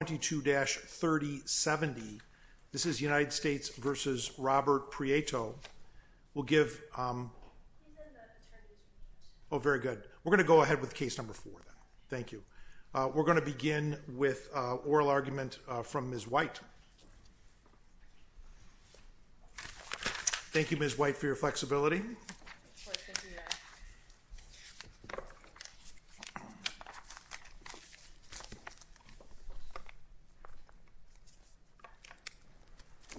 will give. Oh, very good. We're going to go ahead with case number four. Thank you. We're going to begin with oral argument from Ms. White. Thank you, Ms. White, for your flexibility.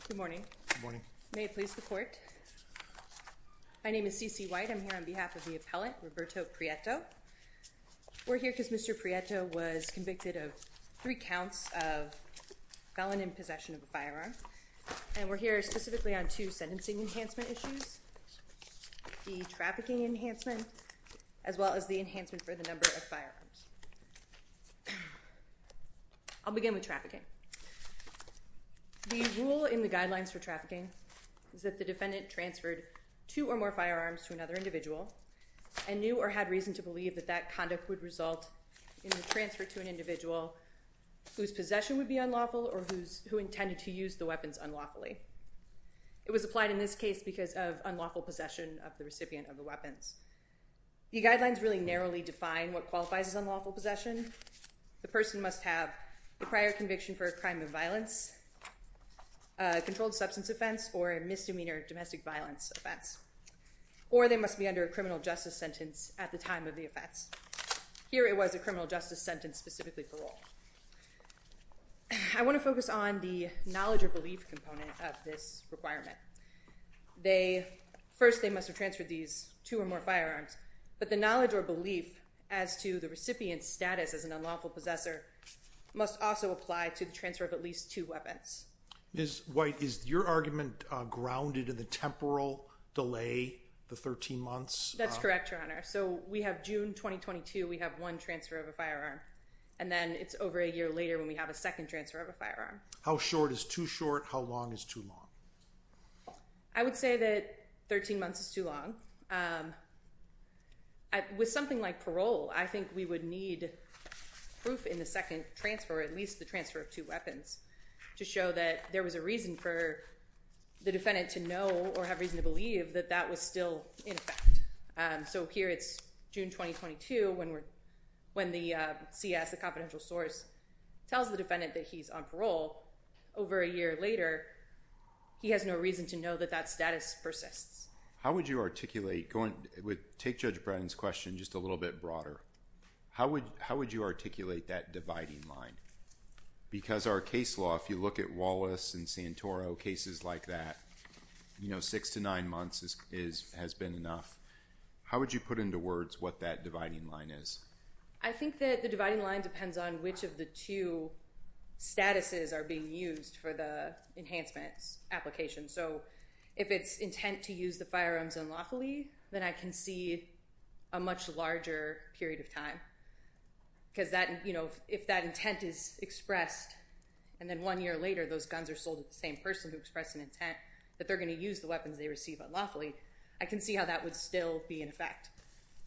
Good morning. Good morning. May it please the court. My name is Cece White. I'm here on behalf of the appellant, Roberto Prieto. We're here because Mr. Prieto was convicted of three counts of felon in possession of a firearm, and we're here specifically on two sentencing enhancement issues, the trafficking enhancement, as well as the enhancement for the number of firearms. I'll begin with trafficking. The rule in the guidelines for trafficking is that the defendant transferred two or more firearms to another individual and knew or had reason to believe that that conduct would result in the transfer to an individual whose possession would be unlawful or who intended to use the weapons unlawfully. It was applied in this case because of unlawful possession of the recipient of the weapons. The guidelines really narrowly define what qualifies as unlawful possession. The person must have the prior conviction for a crime of violence, a controlled substance offense, or a misdemeanor domestic violence offense, or they must be under a criminal justice sentence at the time of the offense. Here it was a criminal justice sentence specifically parole. I want to focus on the knowledge or belief component of this requirement. First, they must have transferred these two or more firearms, but the knowledge or belief as to the recipient's status as an unlawful possessor must also apply to the transfer of at least two weapons. Ms. White, is your argument grounded in the temporal delay, the 13 months? That's correct, Your Honor. So we have June 2022, we have one transfer of a firearm, and then it's over a year later when we have a second transfer of a firearm. How short is too short? How long is too long? I would say that 13 months is too long. With something like parole, I think we would need proof in the second transfer, at least the transfer of two weapons, to show that there was a reason for the defendant to know or have reason to believe that that was still in effect. So here, it's June 2022 when the CS, the confidential source, tells the defendant that he's on parole. Over a year later, he has no reason to know that that status persists. How would you articulate, take Judge Bratton's question just a little bit broader. How would you articulate that dividing line? Because our case law, if you look at Wallace and Santoro, cases like that, you know, six to nine months has been enough. How would you put into words what that dividing line is? I think that the dividing line depends on which of the two statuses are being used for the enhancements application. So if it's intent to use the firearms unlawfully, then I can see a much larger period of time. Because that, you know, if that intent is expressed and then one year later those guns are sold to the same person who expressed an intent that they're going to use the weapons they receive unlawfully, I can see how that would still be in effect.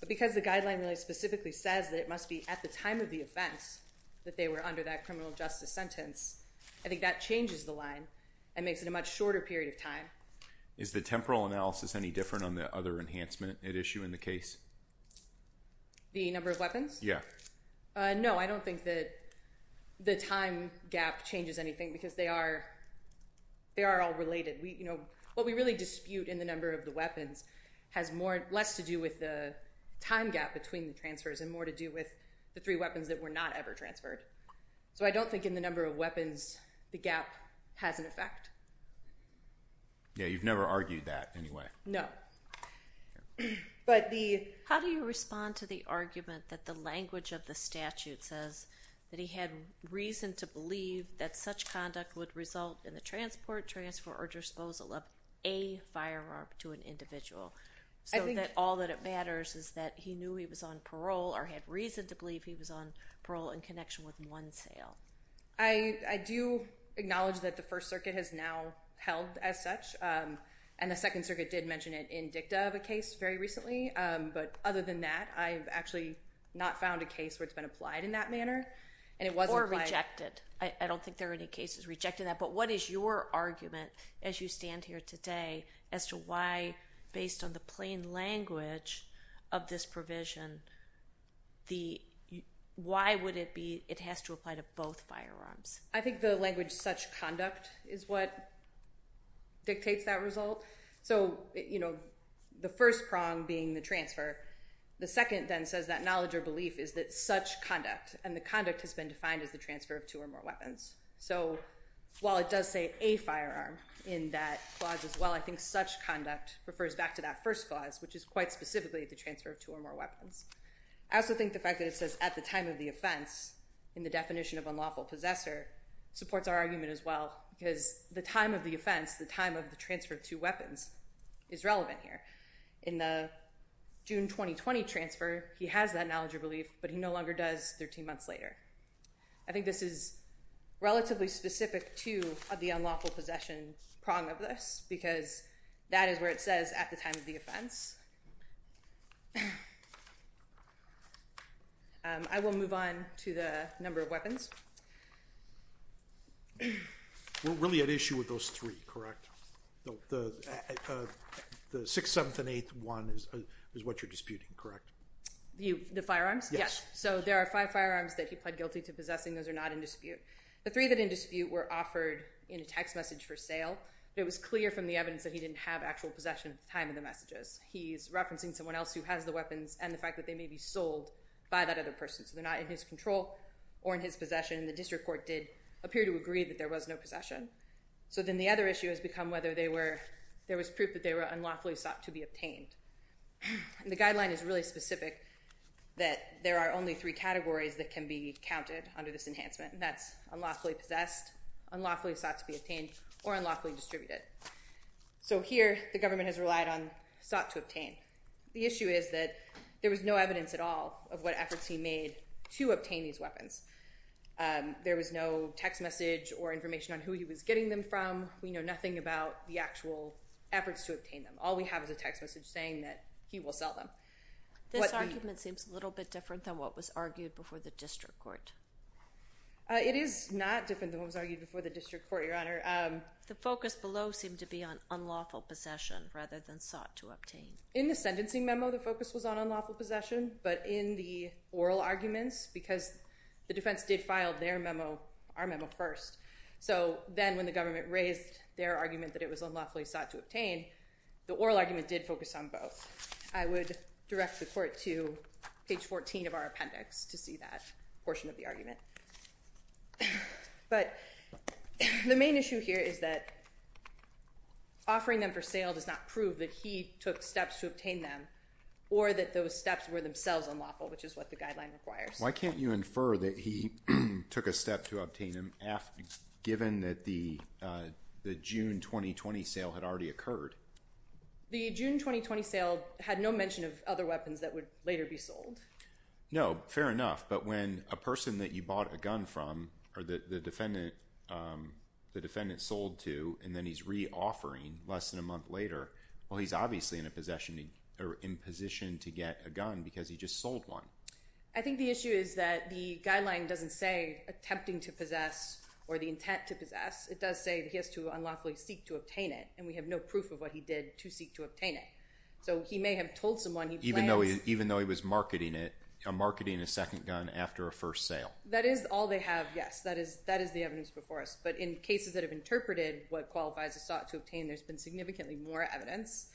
But because the guideline really specifically says that it must be at the time of the offense that they were under that criminal justice sentence, I think that changes the line and makes it a much shorter period of time. Is the temporal analysis any different on the other enhancement at issue in the case? The number of weapons? Yeah. No, I don't think that the time gap changes anything because they are, they are all related. We, you know, what we really dispute in the number of the weapons has more, less to do with the time gap between the transfers and more to do with the three weapons that were not ever transferred. So I don't think in the number of weapons the gap has an effect. Yeah, you've never argued that anyway. No. But the... How do you respond to the argument that the language of the statute says that he had reason to believe that such conduct would result in the transport, transfer, or disposal of a firearm to an individual? So that all that it matters is that he knew he was on parole or had reason to believe he was on parole in connection with one sale. I do acknowledge that the First Circuit has now held as such and the Second Circuit did mention it in dicta of a case very recently, but other than that I've actually not found a case where it's been applied in that manner and it wasn't... Or rejected. I don't think there are any cases rejecting that, but what is your argument as you stand here today as to why based on the plain language of this I think the language such conduct is what dictates that result. So, you know, the first prong being the transfer. The second then says that knowledge or belief is that such conduct and the conduct has been defined as the transfer of two or more weapons. So while it does say a firearm in that clause as well, I think such conduct refers back to that first clause, which is quite specifically the transfer of two or more weapons. I also think the fact that it says at the time of the offense in the definition of unlawful possessor supports our argument as well because the time of the offense, the time of the transfer of two weapons is relevant here. In the June 2020 transfer, he has that knowledge or belief, but he no longer does 13 months later. I think this is relatively specific to the unlawful possession prong of this because that is where it says at the time of the number of weapons. We're really at issue with those three, correct? The 6th, 7th, and 8th one is what you're disputing, correct? The firearms? Yes. So there are five firearms that he pled guilty to possessing. Those are not in dispute. The three that in dispute were offered in a text message for sale. It was clear from the evidence that he didn't have actual possession at the time of the messages. He's referencing someone else who has the weapons and the fact that they may be sold by that other person. So they're not in his control or in his possession. The district court did appear to agree that there was no possession. So then the other issue has become whether there was proof that they were unlawfully sought to be obtained. And the guideline is really specific that there are only three categories that can be counted under this enhancement and that's unlawfully possessed, unlawfully sought to be obtained, or unlawfully distributed. So here the evidence at all of what efforts he made to obtain these weapons. There was no text message or information on who he was getting them from. We know nothing about the actual efforts to obtain them. All we have is a text message saying that he will sell them. This argument seems a little bit different than what was argued before the district court. It is not different than what was argued before the district court, Your Honor. The focus below seemed to be on unlawful possession rather than sought to obtain. In the sentencing memo the focus was on unlawful possession, but in the oral arguments, because the defense did file their memo, our memo first, so then when the government raised their argument that it was unlawfully sought to obtain, the oral argument did focus on both. I would direct the court to page 14 of our appendix to see that portion of that. Offering them for sale does not prove that he took steps to obtain them or that those steps were themselves unlawful, which is what the guideline requires. Why can't you infer that he took a step to obtain them, given that the June 2020 sale had already occurred? The June 2020 sale had no mention of other weapons that would later be sold. No, fair enough, but when a person that you bought a gun from or that the defendant sold to and then he's re-offering less than a month later, well he's obviously in a possession or in position to get a gun because he just sold one. I think the issue is that the guideline doesn't say attempting to possess or the intent to possess. It does say that he has to unlawfully seek to obtain it, and we have no proof of what he did to seek to obtain it. So he may have told someone he planned... Even though he was marketing a second gun after a first sale. That is all they have, yes. That is the evidence before us, but in cases that have interpreted what qualifies as sought to obtain, there's been significantly more evidence.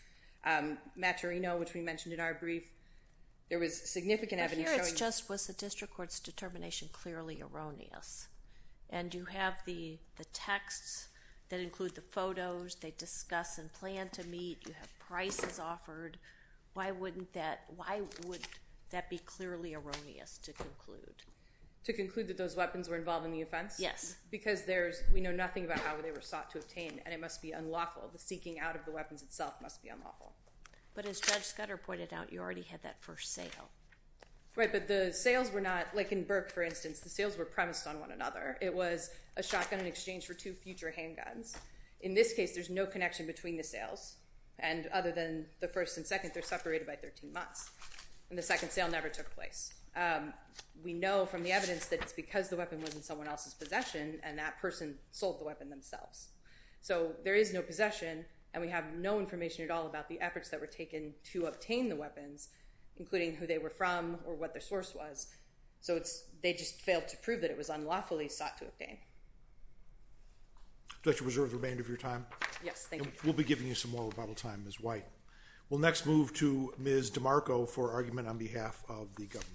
Maturino, which we mentioned in our brief, there was significant evidence showing... But here it's just, was the district court's determination clearly erroneous? And you have the texts that include the photos, they discuss and plan to meet, you have prices offered. Why would that be clearly erroneous to conclude? To conclude that those weapons were involved in the offense? Yes. Because we know nothing about how they were sought to obtain, and it must be unlawful. The seeking out of the weapons itself must be unlawful. But as Judge Scudder pointed out, you already had that first sale. Right, but the sales were not, like in Burke for instance, the sales were premised on one another. It was a shotgun in exchange for two future handguns. In this case, there's no connection between the sales, and other than the first and second, they're separated by 13 months. And the second sale never took place. We know from the evidence that it's because the weapon was in someone else's possession, and that person sold the weapon themselves. So there is no possession, and we have no information at all about the efforts that were taken to obtain the weapons, including who they were from or what their source was. So they just failed to prove that it was unlawfully sought to obtain. Do I have to reserve the remainder of your time? Yes, thank you. We'll be giving you some more rebuttal time, Ms. White. We'll next move to Ms. DeMarco for argument on behalf of the government.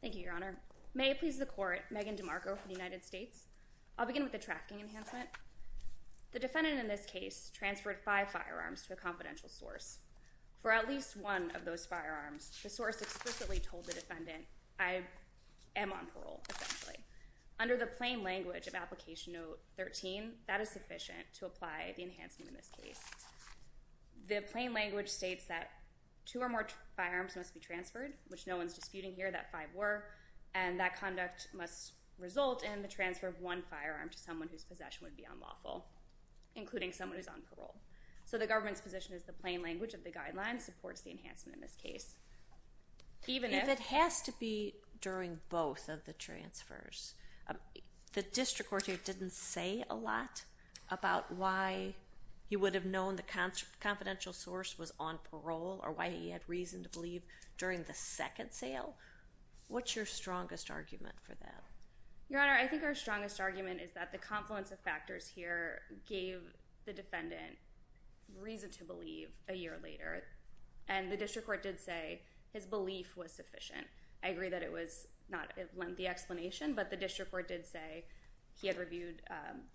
Thank you, Your Honor. May it please the Court, Megan DeMarco for the United States. I'll begin with the trafficking enhancement. The defendant in this case transferred five firearms to a confidential source. For at least one of those firearms, the source explicitly told the defendant, I am on parole, essentially. Under the plain language of Application Note 13, that is sufficient to apply the enhancement in this case. The plain language states that two or more firearms must be transferred, which no one's disputing here, that five were, and that conduct must result in the transfer of one firearm to someone whose possession would be unlawful, including someone who's on parole. So the government's position is the plain language of the guidelines supports the enhancement in this case. If it has to be during both of the transfers, the district court didn't say a lot about why he would have known the confidential source was on parole or why he had reason to believe during the second sale. What's your strongest argument for that? Your Honor, I think our strongest argument is that the confluence of And the district court did say his belief was sufficient. I agree that it was not a lengthy explanation, but the district court did say he had reviewed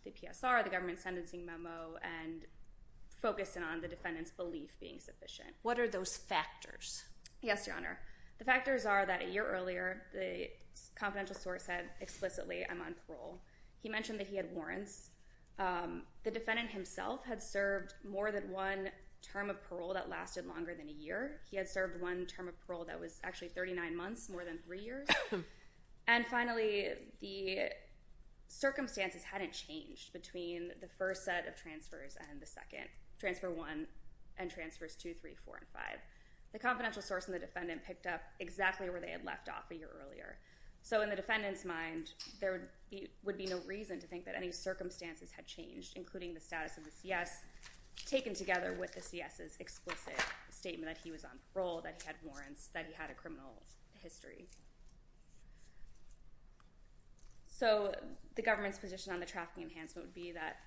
the PSR, the government's sentencing memo, and focused in on the defendant's belief being sufficient. What are those factors? Yes, Your Honor. The factors are that a year earlier, the confidential source had explicitly, I'm on parole. He mentioned that he had warrants. The defendant himself had served more than one term of parole that lasted longer than a year. He had served one term of parole that was actually 39 months, more than three years. And finally, the circumstances hadn't changed between the first set of transfers and the second. Transfer one and transfers two, three, four, and five. The confidential source and the defendant picked up exactly where they had left off a year earlier. So in the defendant's mind, there would be no reason to think that any circumstances had changed, including the status of the CS, taken together with the CS's explicit statement that he was on parole, that he had warrants, that he had a criminal history. So the government's position on the trafficking enhancement would be that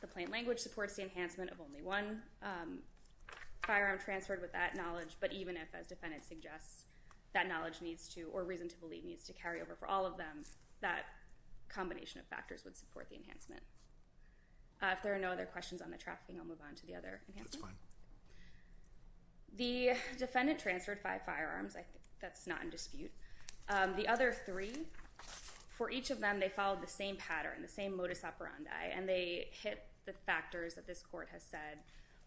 the plain language supports the enhancement of only one firearm transferred with that knowledge, but even if, as defendant suggests, that knowledge needs to, or reason to believe, needs to carry over for all of them, that combination of factors would support the enhancement. If there are no other questions on the trafficking, I'll move on to the other enhancement. The defendant transferred five firearms. I think that's not in dispute. The other three, for each of them, they followed the same pattern, the same modus operandi, and they hit the factors that this court has said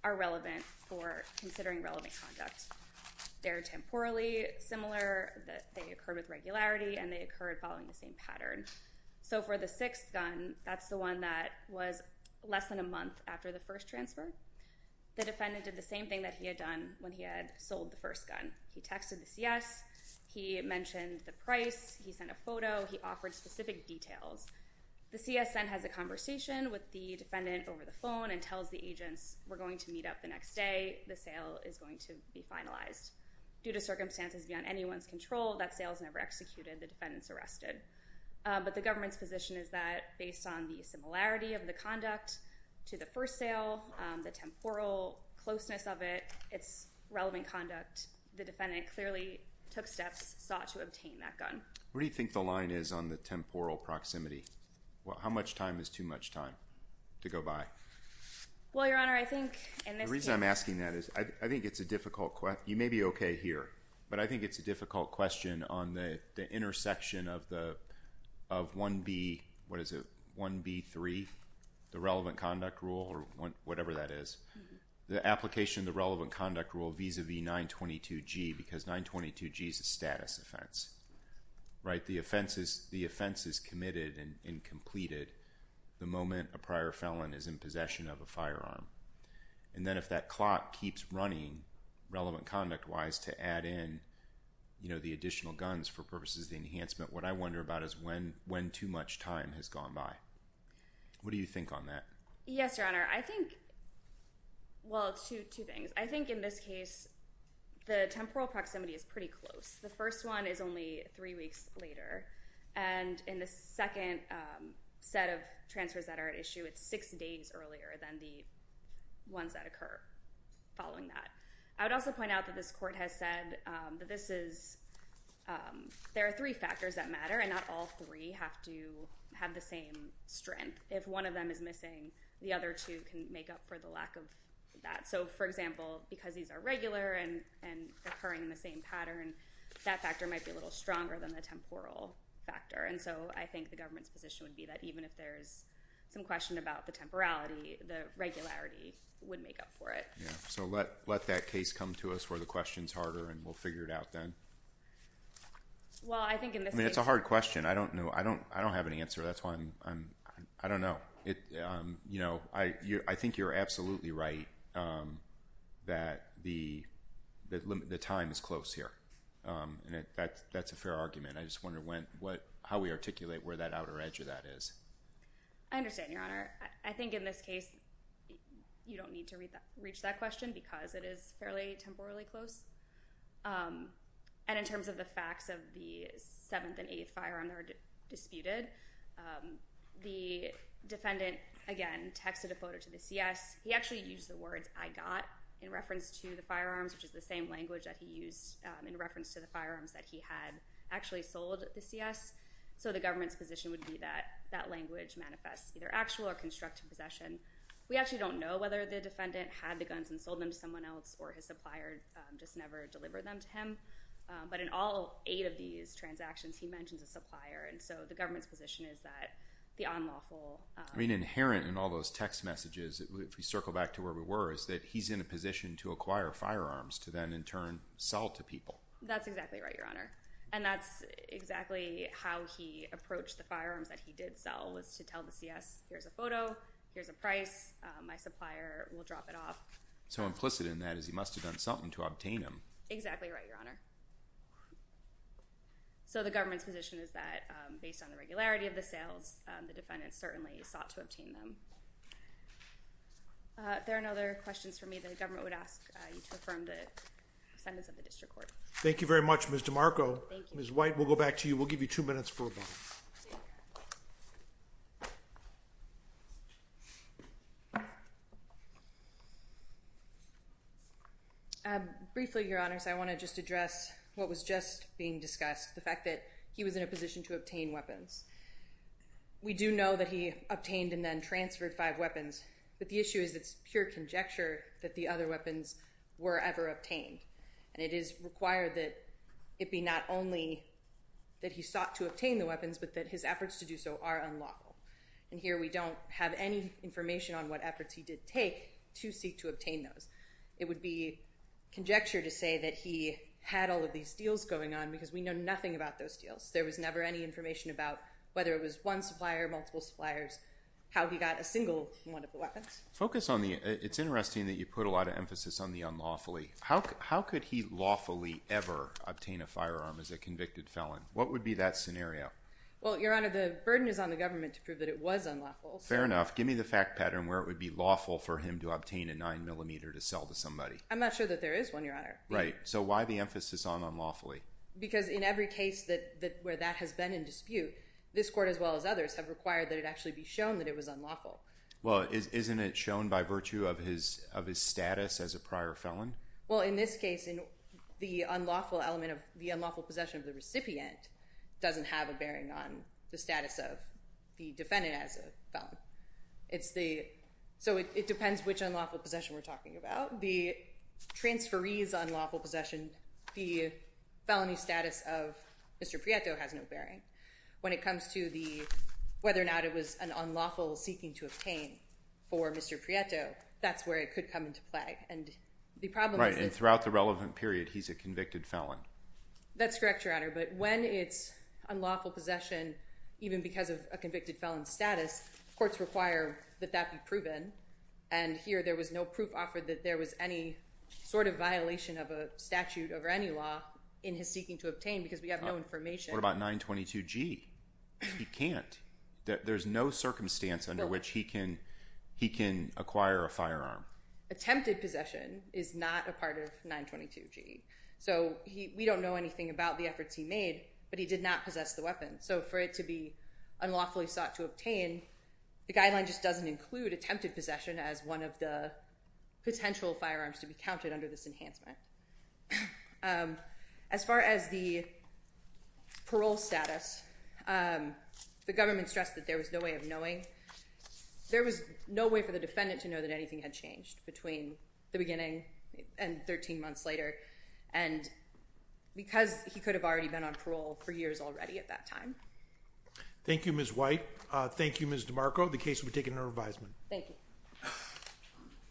are relevant for considering relevant conduct. They're temporally similar, that they occur with regularity, and they occurred following the same pattern. So for the sixth gun, that's the one that was less than a month after the first transfer, the defendant did the same thing that he had done when he had sold the first gun. He texted the CS, he mentioned the price, he sent a photo, he offered specific details. The CS then has a conversation with the defendant over the phone and tells the agents, we're going to meet up the next day, the sale is going to be finalized. Due to circumstances beyond anyone's control, that sale was never executed, the defendant's arrested. But the government's position is that, based on the similarity of the conduct to the first sale, the temporal closeness of it, its relevant conduct, the defendant clearly took steps, sought to obtain that gun. What do you think the line is on the temporal proximity? Well, how much time is too much time to go by? Well, Your Honor, I think, and the reason I'm asking that is, I think it's a difficult question. You may be okay here, but I think it's a difficult question on the intersection of 1B3, the relevant conduct rule, or whatever that is. The application of the relevant conduct rule vis-a-vis 922G, because 922G is a status offense. The offense is committed and completed the moment a prior felon is in possession of a firearm. And then if that clock keeps running, relevant conduct-wise, to add in, you know, the additional guns for purposes of the enhancement, what I wonder about is when too much time has gone by. What do you think on that? Yes, Your Honor. I think, well, it's two things. I think in this case, the temporal proximity is pretty close. The first one is only three weeks later, and in the second set of following that. I would also point out that this court has said that this is, there are three factors that matter, and not all three have to have the same strength. If one of them is missing, the other two can make up for the lack of that. So, for example, because these are regular and occurring in the same pattern, that factor might be a little stronger than the temporal factor. And so I think the government's position would be that even if there's some question about the So let that case come to us where the question's harder, and we'll figure it out then. Well, I think in this case... I mean, it's a hard question. I don't know. I don't have any answer. That's why I'm, I don't know. You know, I think you're absolutely right that the time is close here. And that's a fair argument. I just wonder how we articulate where that outer edge of that is. I understand, Your Honor. I think in this case, you don't need to reach that question because it is fairly temporally close. And in terms of the facts of the seventh and eighth firearm that are disputed, the defendant, again, texted a photo to the CS. He actually used the words, I got, in reference to the firearms, which is the same language that he used in reference to firearms that he had actually sold the CS. So the government's position would be that that language manifests either actual or constructive possession. We actually don't know whether the defendant had the guns and sold them to someone else or his supplier just never delivered them to him. But in all eight of these transactions, he mentions a supplier. And so the government's position is that the unlawful... I mean, inherent in all those text messages, if we circle back to where we were, is that he's in a position to acquire firearms to then in turn sell to people. That's exactly right, Your Honor. And that's exactly how he approached the firearms that he did sell, was to tell the CS, here's a photo, here's a price, my supplier will drop it off. So implicit in that is he must have done something to obtain them. Exactly right, Your Honor. So the government's position is that based on the regularity of the sales, the defendant certainly sought to obtain them. If there are no other questions for me, the government would ask you to affirm the sentence of the district court. Thank you very much, Ms. DeMarco. Ms. White, we'll go back to you. We'll give you two minutes for a moment. Briefly, Your Honors, I want to just address what was just being discussed, the fact that he was in a position to obtain weapons. We do know that he obtained and then transferred five weapons, but the issue is it's pure conjecture that the other weapons were ever obtained. And it is required that it be not only that he sought to obtain the weapons, but that his efforts to do so are unlawful. And here we don't have any information on what efforts he did take to seek to obtain those. It would be conjecture to say that he had all of these deals going on, because we know nothing about those deals. There was never any information about whether it was one supplier, multiple suppliers, how he got a single one of the weapons. Focus on the, it's interesting that you put a lot of emphasis on the unlawfully. How could he lawfully ever obtain a firearm as a convicted felon? What would be that scenario? Well, Your Honor, the burden is on the government to prove that it was unlawful. Fair enough. Give me the fact pattern where it would be lawful for him to obtain a 9mm to sell to somebody. I'm not sure that there is one, Your Honor. Right. So why the emphasis on unlawfully? Because in every case where that has been in required that it actually be shown that it was unlawful. Well, isn't it shown by virtue of his status as a prior felon? Well, in this case, the unlawful element of the unlawful possession of the recipient doesn't have a bearing on the status of the defendant as a felon. It's the, so it depends which unlawful possession we are talking about. The transferee's unlawful possession, the felony status of Mr. Prieto has no bearing. When it comes to whether or not it was an unlawful seeking to obtain for Mr. Prieto, that's where it could come into play. And the problem is that... Right, and throughout the relevant period, he's a convicted felon. That's correct, Your Honor. But when it's unlawful possession, even because of a convicted felon status, courts require that that be proven. And here, there was no proof offered that there was any sort of violation of a statute over any law in his seeking to obtain because we have no information. What about 922G? He can't. There's no circumstance under which he can acquire a firearm. Attempted possession is not a part of 922G. So we don't know anything about the efforts he made, but he did not possess the weapon. So for it to be unlawfully sought to obtain, the guideline just doesn't include attempted possession as one of the potential firearms to be counted under this enhancement. As far as the parole status, the government stressed that there was no way of knowing. There was no way for the defendant to know that anything had changed between the beginning and 13 months later. And because he could have already been on parole for years already at that time. Thank you, Ms. White. Thank you, Ms. DeMarco. The case will be taken under revision. Thank you.